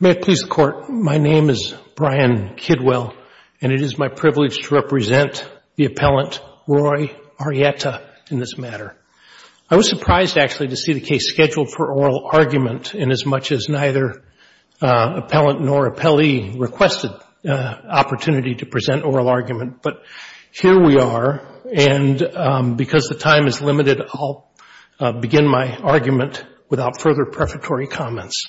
May it please the Court, my name is Brian Kidwell and it is my privilege to represent the appellant Roy Arrieta in this matter. I was surprised actually to see the case scheduled for oral argument inasmuch as neither appellant nor appellee requested opportunity to present oral argument, but here we are and because the time is limited I will begin my argument without further prefatory comments.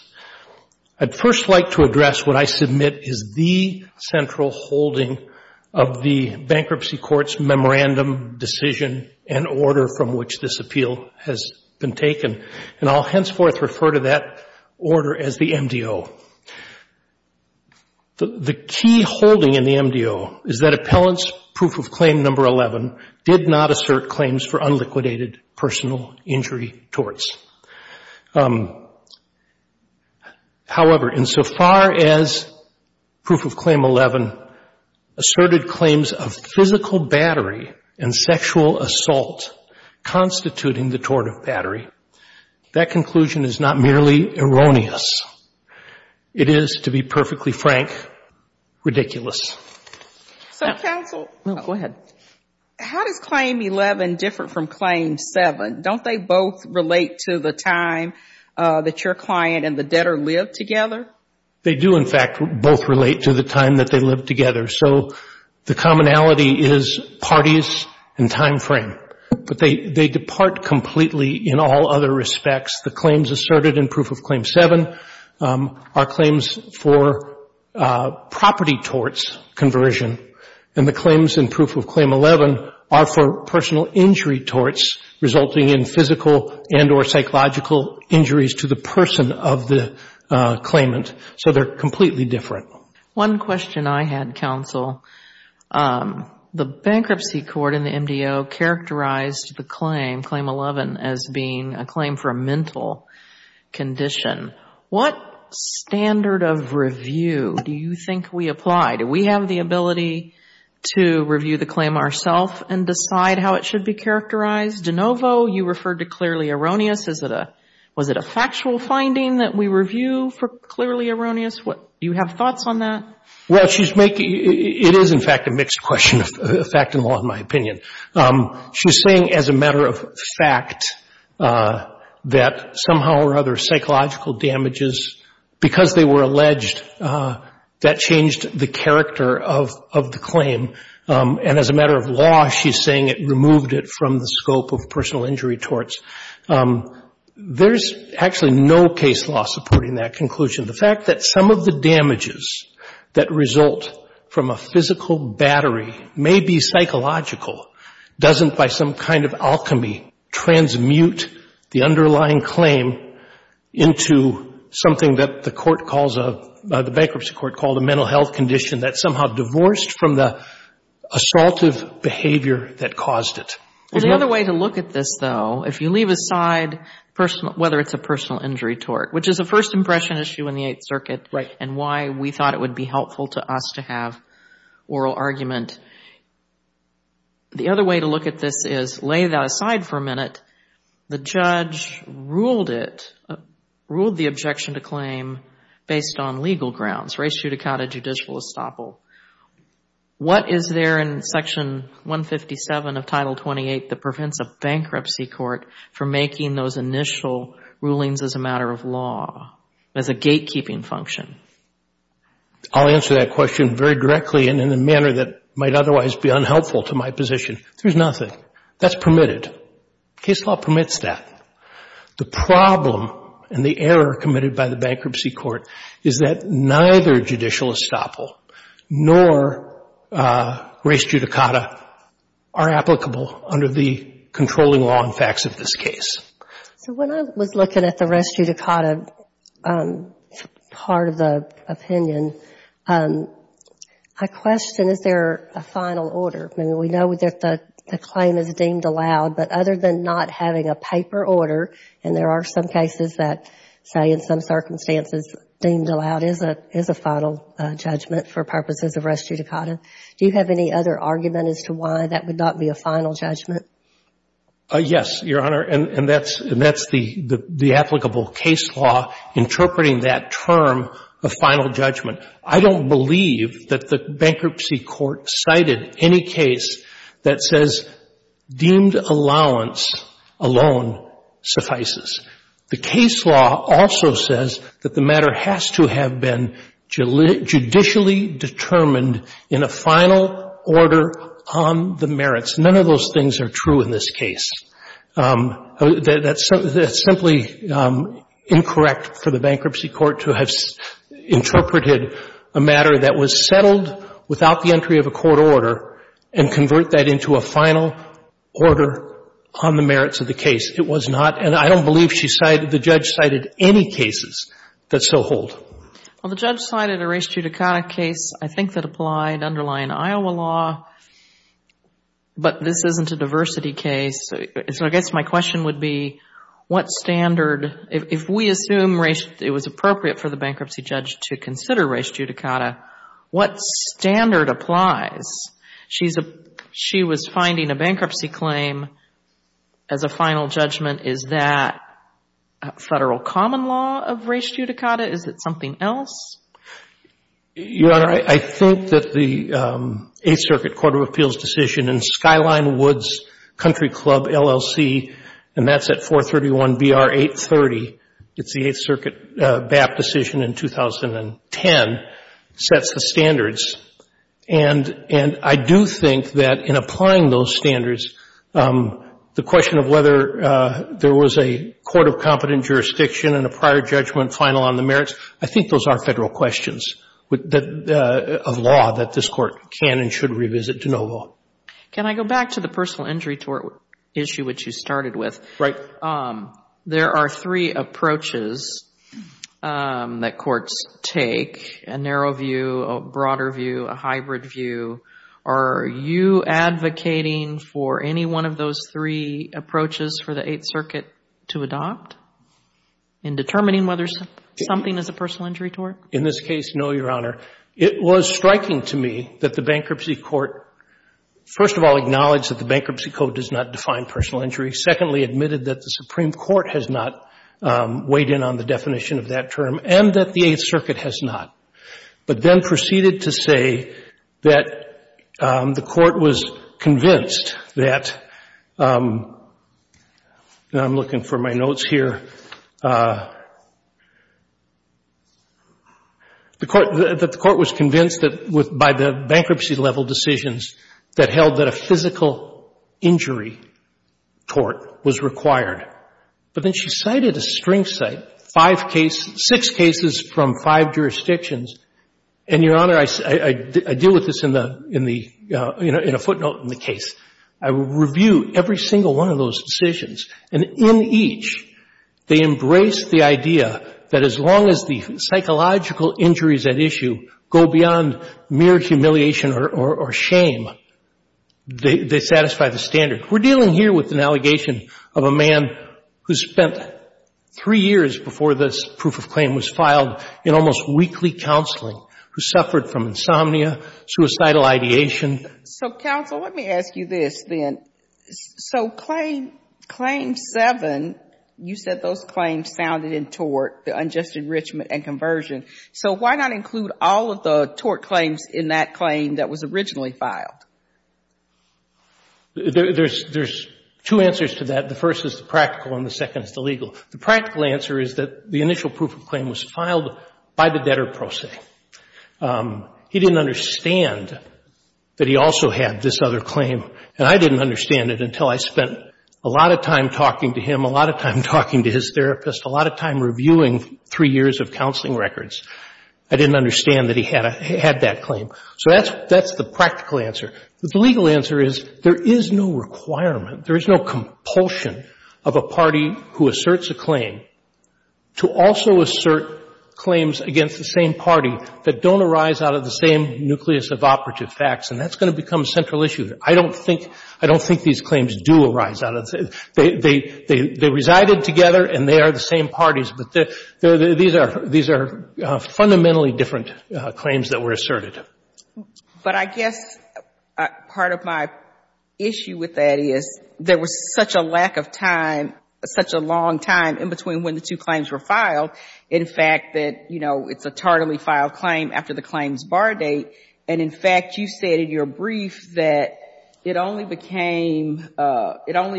I would first like to address what I submit is the central holding of the Bankruptcy Court's memorandum, decision and order from which this appeal has been taken and I will henceforth refer to that order as the MDO. The key holding in the MDO is that appellant's Proof of Claim No. 11 did not assert claims for unliquidated personal injury torts. However, insofar as Proof of Claim 11 asserted claims of physical battery and sexual assault constituting the tort of battery, that conclusion is not merely erroneous. It is, to be perfectly frank, ridiculous. So counsel, how does claim 11 differ from claim 7? Don't they both relate to the time that your client and the debtor lived together? They do in fact both relate to the time that they lived together. So the commonality is parties and time frame, but they depart completely in all other respects. The claims asserted in Proof of Claim 7 are claims for property torts conversion and the claims in Proof of Claim 11 are for personal injury torts resulting in physical and or psychological injuries to the person of the claimant. So they are completely different. One question I had, counsel, the Bankruptcy Court in the MDO characterized the claim, claim 11, as being a claim for a mental condition. What standard of review do you think we apply? Do we have the ability to review the claim ourself and decide how it should be characterized? De Novo, you referred to clearly erroneous. Was it a factual finding that we review for clearly erroneous? Do you have thoughts on that? Well, it is in fact a mixed question, fact and law in my opinion. She is saying as a matter of fact that somehow or other psychological damages, because they were alleged, that changed the character of the claim. And as a matter of law, she is saying it removed it from the scope of personal injury torts. There is actually no case law supporting that conclusion. The fact that some of the damages that result from a physical battery may be psychological doesn't by some kind of alchemy transmute the underlying claim into something that the court calls a, the Bankruptcy Court called a mental health condition that somehow divorced from the assaultive behavior that caused it. There is another way to look at this, though, if you leave aside whether it is a personal injury tort, which is a first impression issue in the Eighth Circuit and why we thought it would be helpful to us to have oral argument. The other way to look at this is lay that aside for a minute. The judge ruled it, ruled the objection to claim based on legal grounds, res judicata judicial estoppel. What is there in Section 157 of Title 28 that prevents a Bankruptcy Court from making those initial rulings as a matter of law, as a gatekeeping function? I will answer that question very directly and in a manner that might otherwise be unhelpful to my position. There is nothing. That is permitted. Case law permits that. The problem and the error committed by the Bankruptcy Court is that neither judicial estoppel nor res judicata are applicable under the controlling law and facts of this case. When I was looking at the res judicata part of the opinion, I question is there a final order? We know that the claim is deemed allowed, but other than not having a paper order, and there are some cases that say in some circumstances deemed allowed is a final judgment for purposes of res judicata. Do you have any other argument as to why that would not be a final judgment? Yes, Your Honor, and that's the applicable case law interpreting that term of final judgment. I don't believe that the Bankruptcy Court cited any case that says deemed allowance alone suffices. The case law also says that the matter has to have been judicially determined in a final order on the merits. None of those things are true in this case. That's simply incorrect for the Bankruptcy Court to have interpreted a matter that was settled without the entry of a court order and convert that into a final order on the merits of the case. It was not, and I don't believe she cited, the judge cited any cases that so hold. The judge cited a res judicata case I think that applied underlying Iowa law, but this isn't a diversity case. I guess my question would be what standard, if we assume it was appropriate for the bankruptcy judge to consider res judicata, what standard applies? She was finding a bankruptcy claim as a final judgment. Is that a federal common law of res judicata? Is it something else? Your Honor, I think that the Eighth Circuit Court of Appeals decision in Skyline Woods Country Club, LLC, and that's at 431BR830, it's the Eighth Circuit BAP decision in 2010, sets the standards. And I do think that in applying those standards, the question of whether there was a court of competent jurisdiction and a prior judgment final on the merits, I think those are federal questions of law that this Court can and should revisit to know law. Can I go back to the personal injury tort issue which you started with? Right. There are three approaches that courts take, a narrow view, a broader view, a hybrid view. Are you advocating for any one of those three approaches for the Eighth Circuit to adopt in determining whether something is a personal injury tort? In this case, no, Your Honor. It was striking to me that the bankruptcy court first of all acknowledged that the bankruptcy code does not define personal injury, secondly admitted that the Supreme Court has not weighed in on the definition of that term, and that the court was convinced that, and I'm looking for my notes here, that the court was convinced that by the bankruptcy level decisions that held that a physical injury tort was required. But then she cited a string cite, five cases, six cases from five jurisdictions, and Your Honor, in the, in a footnote in the case, I would review every single one of those decisions, and in each they embraced the idea that as long as the psychological injuries at issue go beyond mere humiliation or shame, they satisfy the standard. We're dealing here with an allegation of a man who spent three years before this proof claim was filed in almost weekly counseling, who suffered from insomnia, suicidal ideation. So counsel, let me ask you this then. So claim, claim seven, you said those claims sounded in tort, the unjust enrichment and conversion. So why not include all of the tort claims in that claim that was originally filed? There's two answers to that. The first is the practical and the second is the legal. The practical answer is that the initial proof of claim was filed by the debtor pro se. He didn't understand that he also had this other claim, and I didn't understand it until I spent a lot of time talking to him, a lot of time talking to his therapist, a lot of time reviewing three years of counseling records. I didn't understand that he had that claim. So that's the practical answer. But the legal answer is there is no requirement, there is no compulsion of a party who asserts a claim to also assert claims against the same party that don't arise out of the same nucleus of operative facts, and that's going to become a central issue. I don't think these claims do arise out of the same. They resided together and they are the same parties, but these are fundamentally different claims that were asserted. But I guess part of my issue with that is there was such a lack of time, such a long time in between when the two claims were filed. In fact, it's a tardily filed claim after the claims bar date, and in fact you said in your brief that it only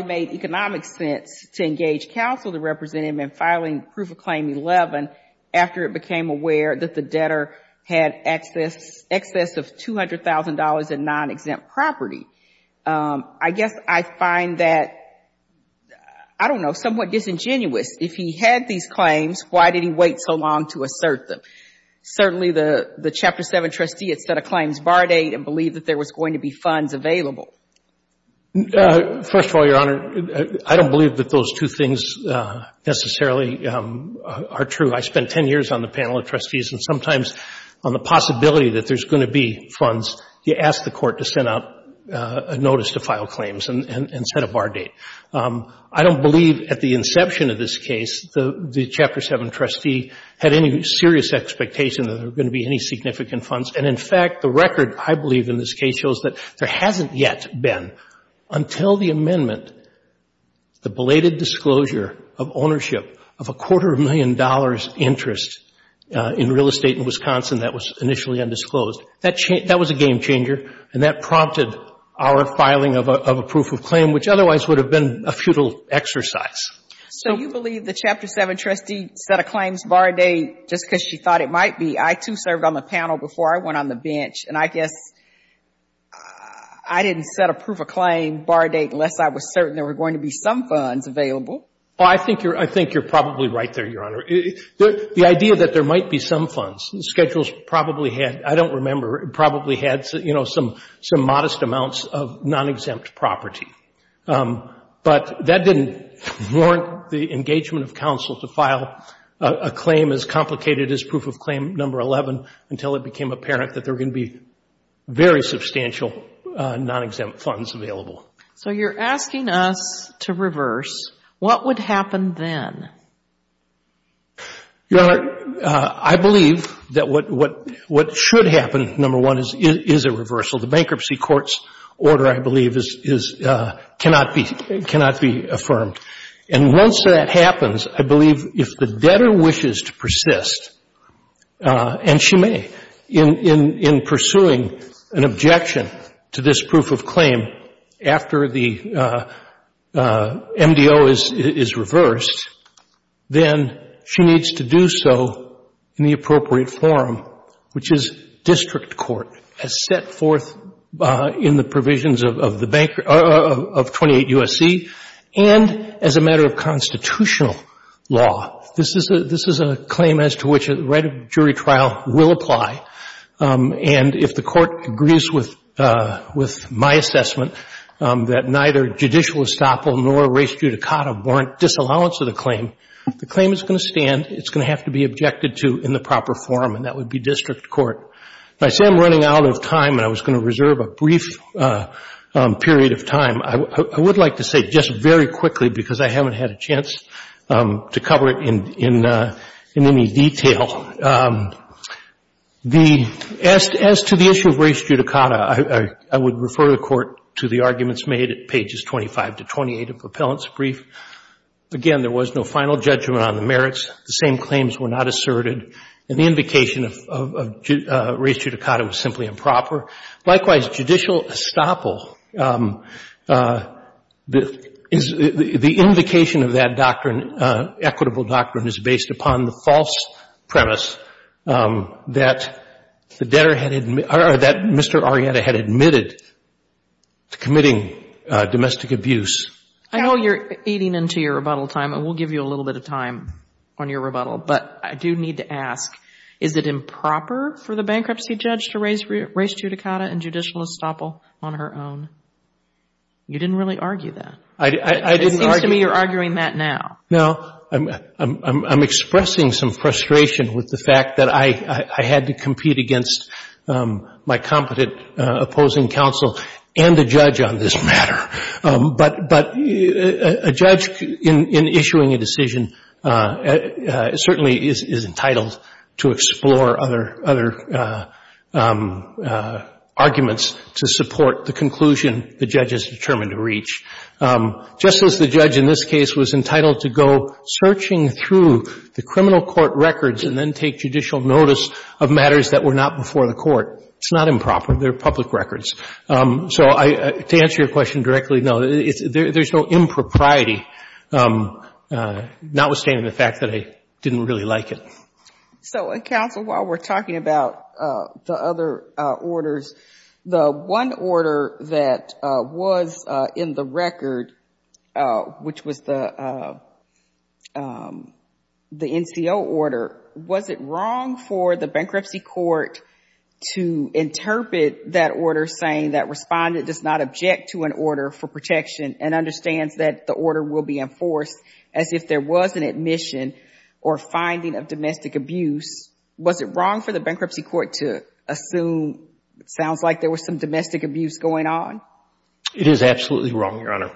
made economic sense to engage counsel to represent him in filing proof of claim 11 after it became aware that the debtor had excess of $200,000 in non-exempt property. I guess I find that somewhat disingenuous if he had these claims, why did he wait so long to assert them? Certainly the Chapter 7 trustee had set a claims bar date and believed that there was going to be funds available. First of all, Your Honor, I don't believe that those two things necessarily are true. I spent 10 years on the panel of trustees, and sometimes on the possibility that there is going to be funds, you ask the court to send out a notice to file claims and set a claims bar date. I don't believe at the inception of this case the Chapter 7 trustee had any serious expectation that there were going to be any significant funds, and in fact the record I believe in this case shows that there hasn't yet been until the amendment, the belated disclosure of ownership of a quarter million dollars interest in real estate in Wisconsin that was initially undisclosed. That was a game changer, and that prompted our filing of a proof of claim, which otherwise would have been a futile exercise. So you believe the Chapter 7 trustee set a claims bar date just because she thought it might be. I, too, served on the panel before I went on the bench, and I guess I didn't set a proof of claim bar date unless I was certain there were going to be some funds available. Well, I think you're probably right there, Your Honor. The idea that there might be some funds, schedules probably had, I don't remember, probably had, you know, some modest amounts of non-exempt property. But that didn't warrant the engagement of counsel to file a claim as complicated as proof of claim number 11 until it became apparent that there were going to be very substantial non-exempt funds available. So you're asking us to reverse. What would happen then? Your Honor, I believe that what should happen, number one, is a reversal. The bankruptcy court's order, I believe, cannot be affirmed. And once that happens, I believe if the debtor wishes to persist, and she may, in pursuing an objection to this proof of claim after the MDO is reversed, then she needs to do so in the appropriate form, which is district court, as set forth in the provisions of 28 U.S.C., and as a matter of constitutional law. This is a claim as to which a right of jury trial will apply. And if the court agrees with my assessment that neither judicial estoppel nor res judicata warrant disallowance of the claim, the claim is going to stand, it's going to have to be objected to in the proper form, and that would be district court. If I say I'm running out of time, and I was going to reserve a brief period of time, I would like to say just very quickly, because I haven't had a chance to cover it in any detail, as to the issue of res judicata, I would refer the Court to the arguments made at pages 25 to 28 of Propellant's brief. Again, there was no final judgment on the merits. The same claims were not asserted, and the invocation of res judicata was simply improper. Likewise, judicial estoppel, the invocation of that doctrine, equitable doctrine, is based upon the false premise that the debtor had, or that Mr. Arrieta had admitted to committing domestic abuse. I know you're eating into your rebuttal time, and we'll give you a little bit of time on your rebuttal, but I do need to ask, is it improper for the bankruptcy judge to raise res judicata and judicial estoppel on her own? You didn't really argue that. I didn't argue that. It seems to me you're arguing that now. No. I'm expressing some frustration with the fact that I had to compete against my competent opposing counsel and a judge on this matter. But a judge, in issuing a decision, certainly is entitled to explore other arguments to support the conclusion the judge is determined to reach. Just as the judge in this case was entitled to go searching through the criminal court records and then take judicial notice of matters that were not before the Court, it's not improper. They're public records. So to answer your question directly, no. There's no impropriety, notwithstanding the fact that I didn't really like it. So counsel, while we're talking about the other orders, the one order that was in the record, which was the NCO order, was it wrong for the bankruptcy court to interrogate the court and interpret that order saying that respondent does not object to an order for protection and understands that the order will be enforced as if there was an admission or finding of domestic abuse? Was it wrong for the bankruptcy court to assume it sounds like there was some domestic abuse going on? It is absolutely wrong, Your Honor.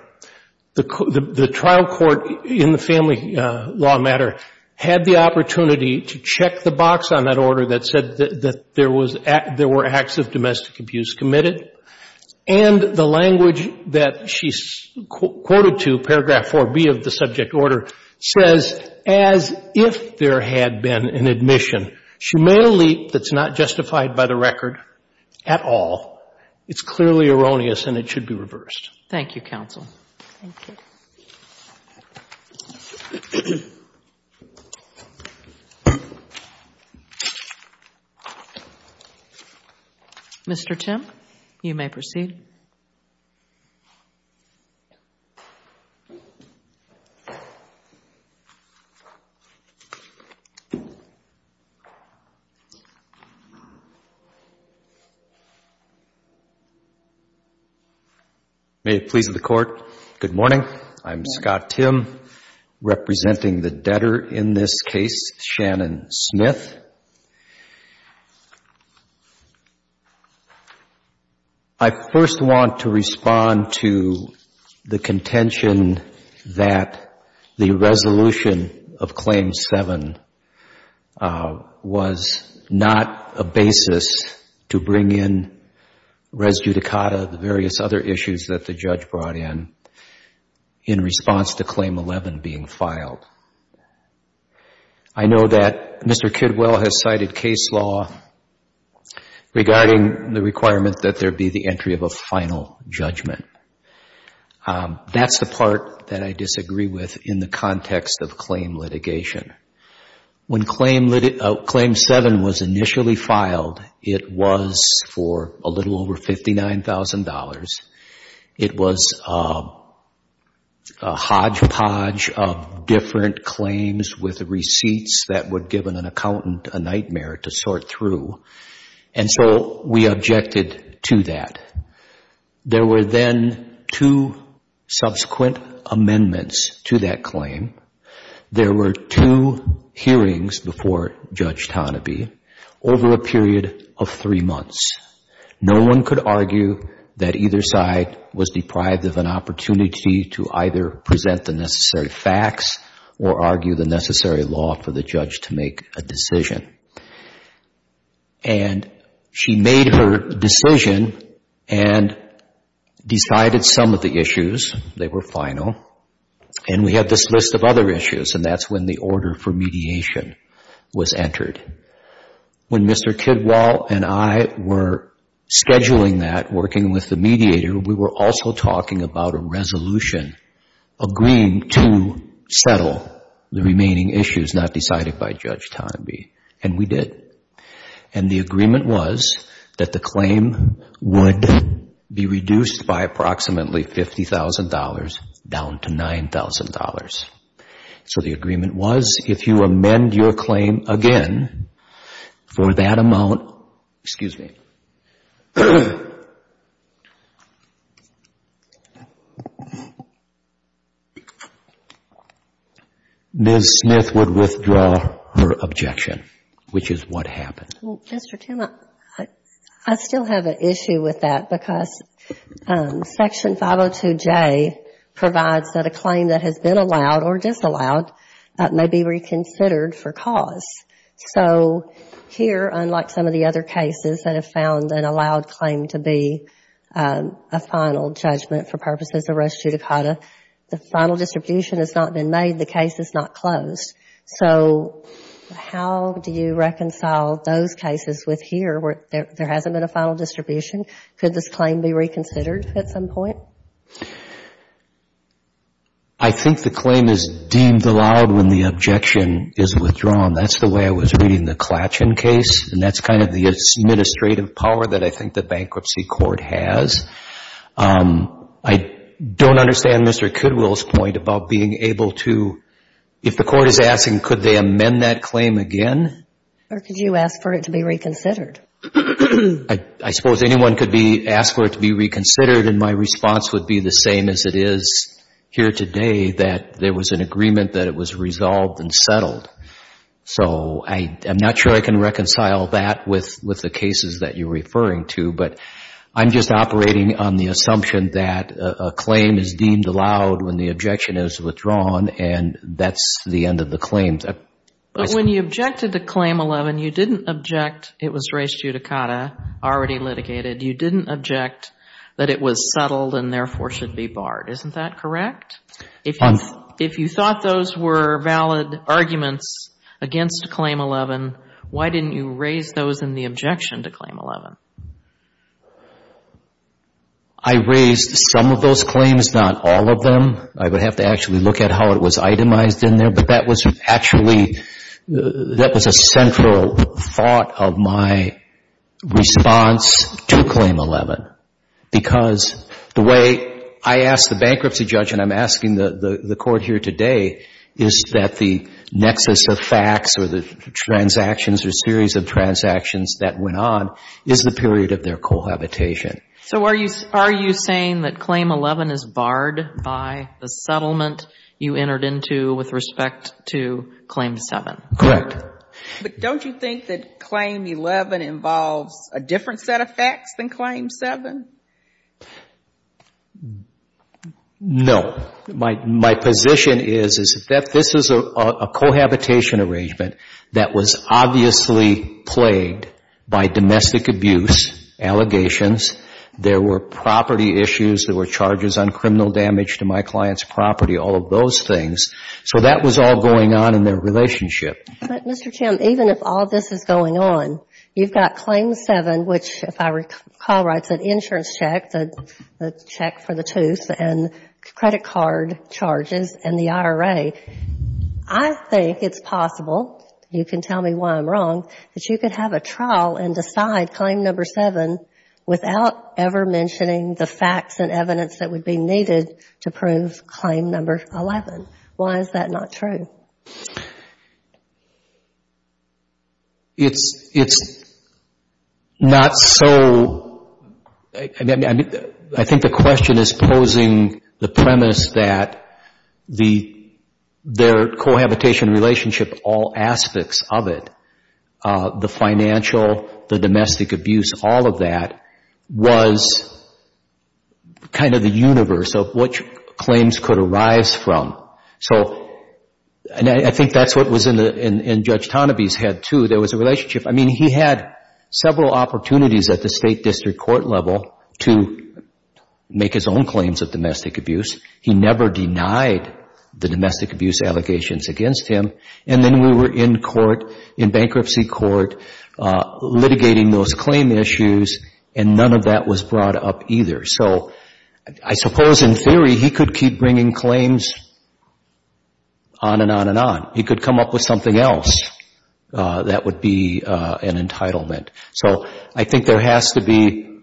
The trial court in the family law matter had the opportunity to check the box on that order that said that there were acts of domestic abuse committed. And the language that she quoted to, paragraph 4B of the subject order, says as if there had been an admission. She made a leap that's not justified by the record at all. It's clearly erroneous and it should be reversed. Thank you, counsel. Thank you. Mr. Tim, you may proceed. May it please the Court, good morning. I'm Scott Tim, representing the debtor in this case, Shannon Smith. I first want to respond to the question that was raised by the judge the contention that the resolution of Claim 7 was not a basis to bring in res judicata, the various other issues that the judge brought in, in response to Claim 11 being filed. I know that Mr. Kidwell has cited case law regarding the requirement that there be the entry of final judgment. That's the part that I disagree with in the context of claim litigation. When Claim 7 was initially filed, it was for a little over $59,000. It was a hodgepodge of different claims with receipts that would give an accountant a nightmare to sort through. So we objected to that. There were then two subsequent amendments to that claim. There were two hearings before Judge Tonneby over a period of three months. No one could argue that either side was deprived of an opportunity to either present the necessary facts or argue the necessary law for the judge to make a decision. And she made her decision and decided some of the issues. They were final. And we had this list of other issues, and that's when the order for mediation was entered. When Mr. Kidwell and I were scheduling that, working with the mediator, we were also talking about a resolution agreeing to settle the remaining issues not decided by Judge Tonneby. And we did. And the agreement was that the claim would be reduced by approximately $50,000 down to $9,000. So the agreement was if you amend your claim again for that amount, excuse me, Ms. Smith would withdraw her objection, which is what happened. Well, Mr. Tim, I still have an issue with that because Section 502J provides that a claim that has been allowed or disallowed may be reconsidered for cause. So here, unlike some of the other cases that have found an allowed claim to be a final judgment for purposes of res judicata, the final distribution has not been made. The case is not closed. So how do you reconcile those cases with here where there hasn't been a final distribution? Could this claim be reconsidered at some point? I think the claim is deemed allowed when the objection is withdrawn. That's the way I was seeing the Clatchen case, and that's kind of the administrative power that I think the Bankruptcy Court has. I don't understand Mr. Kidwell's point about being able to, if the Court is asking could they amend that claim again? Or could you ask for it to be reconsidered? I suppose anyone could be asked for it to be reconsidered, and my response would be the same as it is here today, that there was an agreement that it was resolved and settled. So I'm not sure I can reconcile that with the cases that you're referring to, but I'm just operating on the assumption that a claim is deemed allowed when the objection is withdrawn, and that's the end of the claims. When you objected to Claim 11, you didn't object it was res judicata already litigated. You didn't object that it was settled and therefore should be barred. Isn't that correct? If you thought those were valid arguments against Claim 11, why didn't you raise those in the objection to Claim 11? I raised some of those claims, not all of them. I would have to actually look at how it was itemized in there, but that was actually, that was a central thought of my response to Claim 11, because the way I asked the bankruptcy judge and I'm asking the Court here today is that the nexus of facts or the transactions or series of transactions that went on is the period of their cohabitation. So are you saying that Claim 11 is barred by the settlement you entered into with respect to Claim 7? Correct. But don't you think that Claim 11 involves a different set of facts than Claim 7? No. My position is that this is a cohabitation arrangement that was obviously plagued by domestic abuse, allegations, there were property issues, there were charges on criminal damage to my client's property, all of those things. So that was all going on in their relationship. But Mr. Chamb, even if all this is going on, you've got Claim 7, which if I recall writes an insurance check, the check for the tooth and credit card charges and the IRA. I think it's possible, you can tell me why I'm wrong, that you could have a trial and decide Claim Number 7 without ever mentioning the facts and evidence that would be needed to prove Claim Number 11. Why is that not true? I think the question is posing the premise that their cohabitation relationship, all aspects of it, the financial, the domestic abuse, all of that was kind of the universe of which claims could arise from. I think that's what was in Judge Tonneby's head too. There was a relationship. I mean, he had several opportunities at the State District Court level to make his own claims of domestic abuse. He never denied the domestic abuse allegations against him. And then we were in court, in bankruptcy court, litigating those claim issues and none of that was brought up either. So I suppose in theory, he could keep bringing claims on and on and on. He could come up with something else that would be an entitlement. So I think there has to be,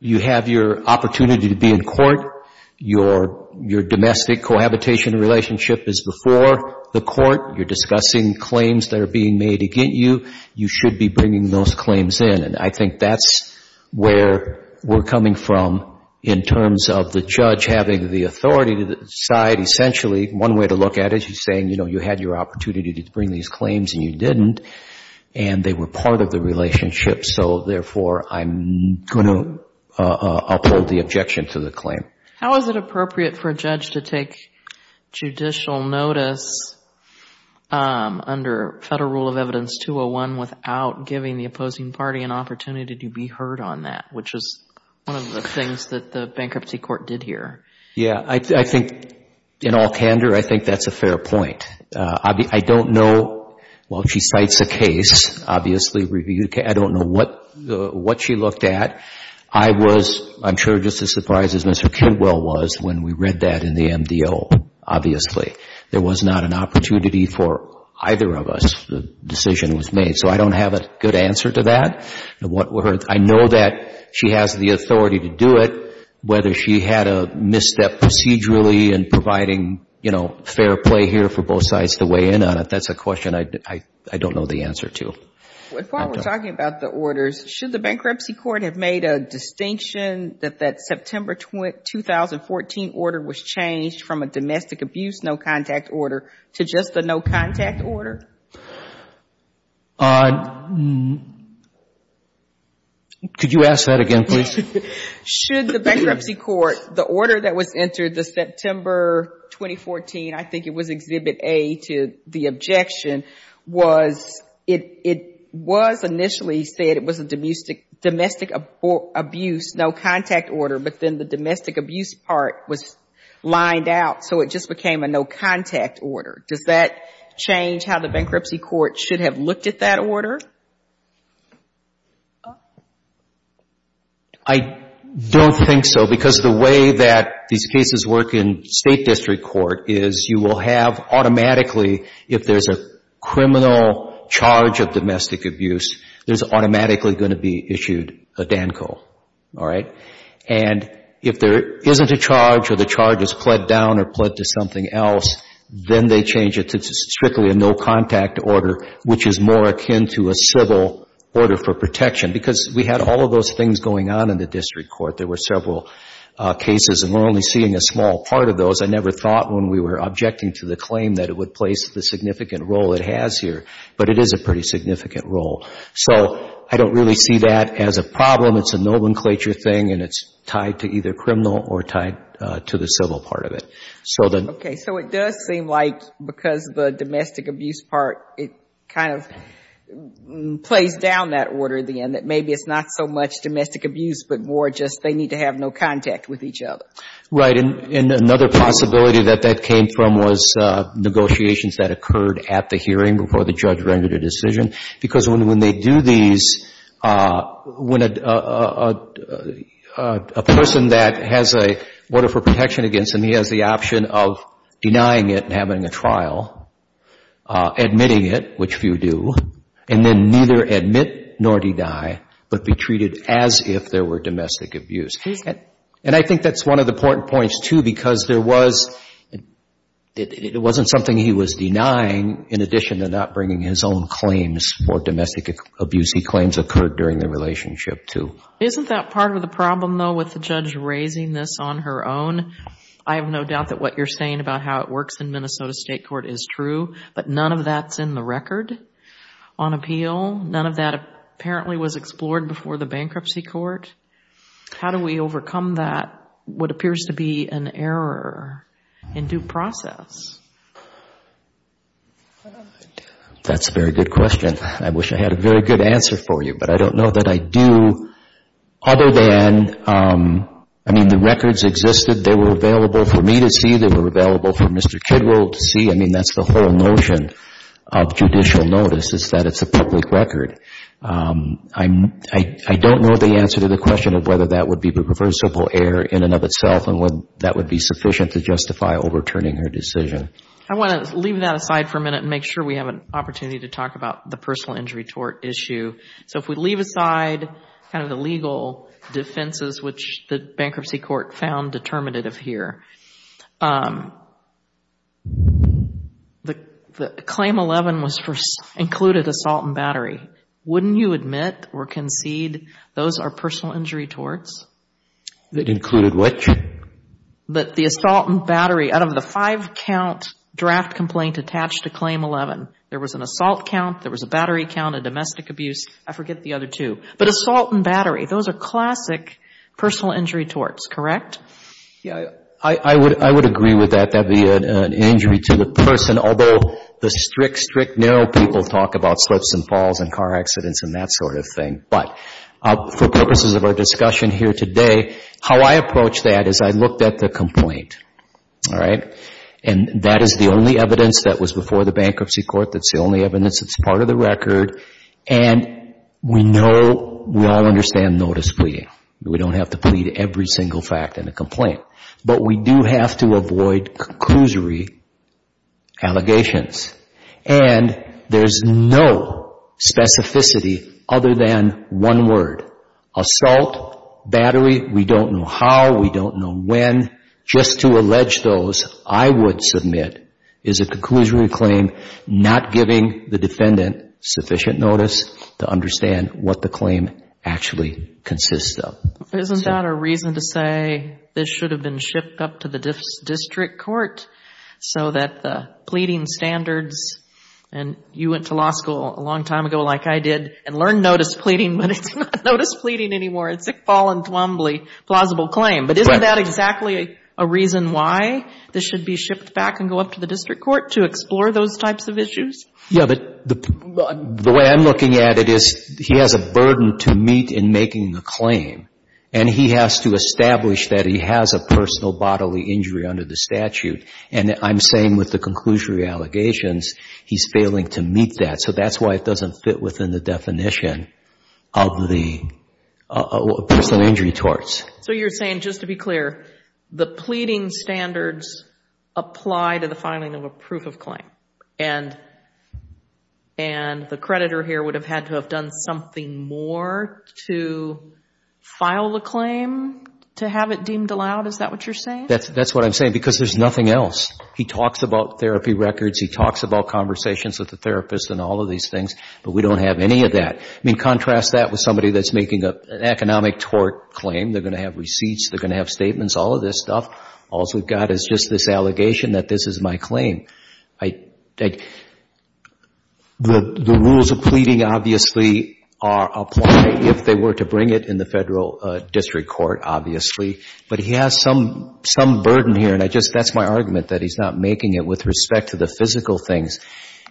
you have your opportunity to be in court. Your domestic cohabitation relationship is before the court. You're discussing claims that are being made against you. You should be bringing those claims in. And I think that's where we're coming from in terms of the judge having the authority to decide essentially. One way to look at it, he's saying, you know, you had your opportunity to bring these claims and you didn't. And they were part of the relationship. So therefore, I'm going to uphold the objection to the claim. How is it appropriate for a judge to take judicial notice under federal rule of evidence 201 without giving the opposing party an opportunity to be heard on that, which is one of the things that the bankruptcy court did here? Yeah, I think in all candor, I think that's a fair point. I don't know, well, she cites a case, obviously, I don't know what she looked at. I was, I'm sure just as surprised as Mr. Kidwell was when we read that in the MDO, obviously. There was not an opportunity for either of us. The decision was made. So I don't have a good answer to that. I know that she has the authority to do it. Whether she had a misstep procedurally in providing, you know, fair play here for both sides to weigh in on it, that's a question I don't know the answer to. Before we're talking about the orders, should the bankruptcy court have made a distinction that that September 2014 order was changed from a domestic abuse no contact order to just a no contact order? Could you ask that again, please? Should the bankruptcy court, the order that was entered the September 2014, I think it was Exhibit A to the objection, was, it was initially said it was a domestic abuse no contact order, but then the domestic abuse part was lined out, so it just became a no contact order. Does that change how the bankruptcy court should have looked at that order? I don't think so, because the way that these cases work in state district court is you will have automatically, if there's a criminal charge of domestic abuse, there's automatically going to be issued a DANCO, all right? And if there isn't a charge or the charge is pled down or pled to something else, then they change it to strictly a no contact order, which is more akin to a civil order for protection, because we had all of those things going on in the district court. There were several cases, and we're only seeing a small part of those. I never thought when we were objecting to the claim that it would place the significant role it has here, but it is a pretty significant role. So I don't really see that as a problem. It's a nomenclature thing, and it's tied to either the civil part of it. Okay. So it does seem like because the domestic abuse part, it kind of plays down that order at the end, that maybe it's not so much domestic abuse, but more just they need to have no contact with each other. Right. And another possibility that that came from was negotiations that occurred at the hearing before the judge rendered a decision, because when they do these, when a person that has a order for protection against them, he has the option of denying it and having a trial, admitting it, which few do, and then neither admit nor deny, but be treated as if there were domestic abuse. And I think that's one of the important points, too, because there was — it wasn't something he was denying in addition to not bringing his own claims for domestic abuse. He claims occurred during the relationship, too. Isn't that part of the problem, though, with the judge raising this on her own? I have no doubt that what you're saying about how it works in Minnesota State court is true, but none of that's in the record on appeal. None of that apparently was explored before the bankruptcy court. How do we overcome that, what appears to be an error in due process? That's a very good question. I wish I had a very good answer for you, but I don't know that I do, other than, I mean, the records existed. They were available for me to see. They were available for Mr. Kidwell to see. I mean, that's the whole notion of judicial notice is that it's a public record. I don't know the answer to the question of whether that would be reversible error in and of itself and whether that would be sufficient to justify overturning her decision. I want to leave that aside for a minute and make sure we have an opportunity to talk about the personal injury tort issue. If we leave aside the legal defenses, which the bankruptcy court found determinative here, the claim 11 included assault and battery. Wouldn't you admit or concede those are personal injury torts? That included what? The assault and battery. Out of the five count draft complaint attached to claim 11, there was an assault count, there was a battery count, a domestic abuse, I forget the other two. But assault and battery, those are classic personal injury torts, correct? I would agree with that. That would be an injury to the person, although the strict, strict, narrow people talk about slips and falls and car accidents and that sort of thing. But for purposes of our discussion here today, how I approach that is I looked at the complaint. All right? And that is the only evidence that was before the bankruptcy court. That's the only evidence that's part of the record. And we know, we all understand notice pleading. We don't have to plead every single fact in a complaint. But we do have to avoid conclusory allegations. And there's no specificity other than one word. Assault, battery, we don't know how, we don't know when. Just to allege those, I would submit is a conclusory claim, not giving the defendant sufficient notice to understand what the claim actually consists of. Isn't that a reason to say this should have been shipped up to the district court so that the pleading standards, and you went to law school a long time ago like I did and learned notice pleading, but it's not notice pleading anymore. It's a fall and thumbly plausible claim. But isn't that exactly a reason why this should be shipped back and go up to the district court to explore those types of issues? Yeah, but the way I'm looking at it is he has a burden to meet in making the claim. And he has to establish that he has a personal bodily injury under the statute. And I'm saying with the conclusory allegations, he's failing to meet that. So that's why it doesn't fit within the definition of the personal injury torts. So you're saying just to be clear, the pleading standards apply to the filing of a proof of claim. And the creditor here would have had to have done something more to file the claim to have it deemed allowed? Is that what you're saying? That's what I'm saying because there's nothing else. He talks about therapy records. He talks about conversations with the therapist and all of these things, but we don't have any of that. I mean, contrast that with somebody that's making an economic tort claim. They're going to have receipts. They're going to have statements, all of this stuff. All we've got is just this allegation that this is my claim. The rules of pleading obviously are applied if they were to bring it in the federal district court, obviously. But he has some burden here. And that's my argument, that he's not making it with respect to the physical things.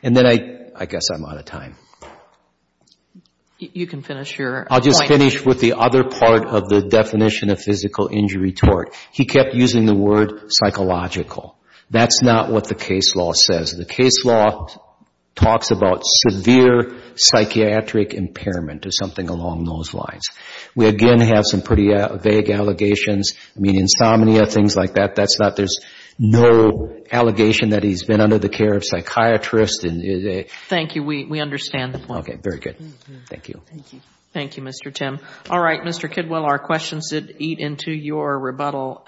And then I guess I'm out of time. You can finish your point. I'll just finish with the other part of the definition of physical injury tort. He kept using the word psychological. That's not what the case law says. The case law talks about severe psychiatric impairment or something along those lines. We again have some pretty vague allegations. I mean, insomnia, things like that. There's no allegation that he's been under the care of psychiatrists. Thank you. We understand the point. Okay. Very good. Thank you. Thank you, Mr. Tim. All right, Mr. Kidwell, our questions eat into your rebuttal.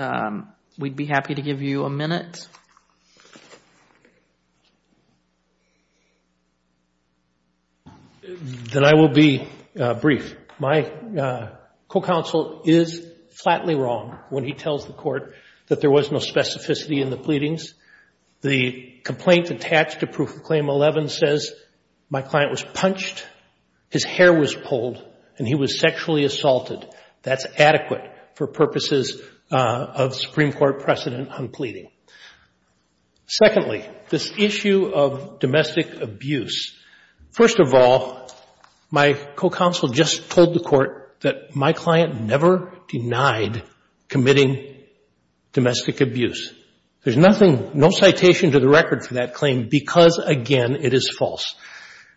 We'd be happy to give you a minute. Then I will be brief. My co-counsel is flatly wrong when he tells the court that there was no specificity in the pleadings. The complaint attached to Proof of Claim 11 says my client was punched, his hair was pulled, and he was sexually assaulted. That's adequate for purposes of Supreme Court precedent on pleading. Secondly, this issue of domestic abuse. First of all, my co-counsel just told the court that my client never denied committing domestic abuse. There's nothing, no citation to the record for that claim because, again, it is false.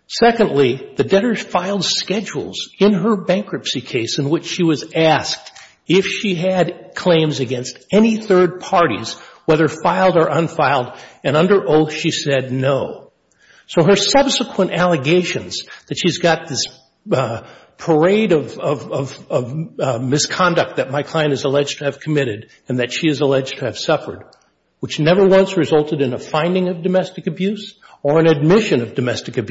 Secondly, the debtor filed schedules in her bankruptcy case in which she was asked if she had claims against any third parties, whether filed or unfiled, and under oath she said no. So her subsequent allegations that she's got this parade of misconduct that my client is alleged to have committed and that she is alleged to have suffered, which never once resulted in a finding of domestic abuse or an admission of domestic So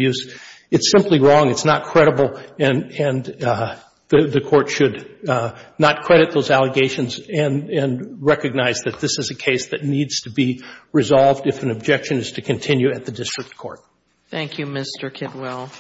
I think the court should be able to look at these allegations and recognize that this is a case that needs to be resolved if an objection is to continue at the district court. Thank you, Mr. Kitwell.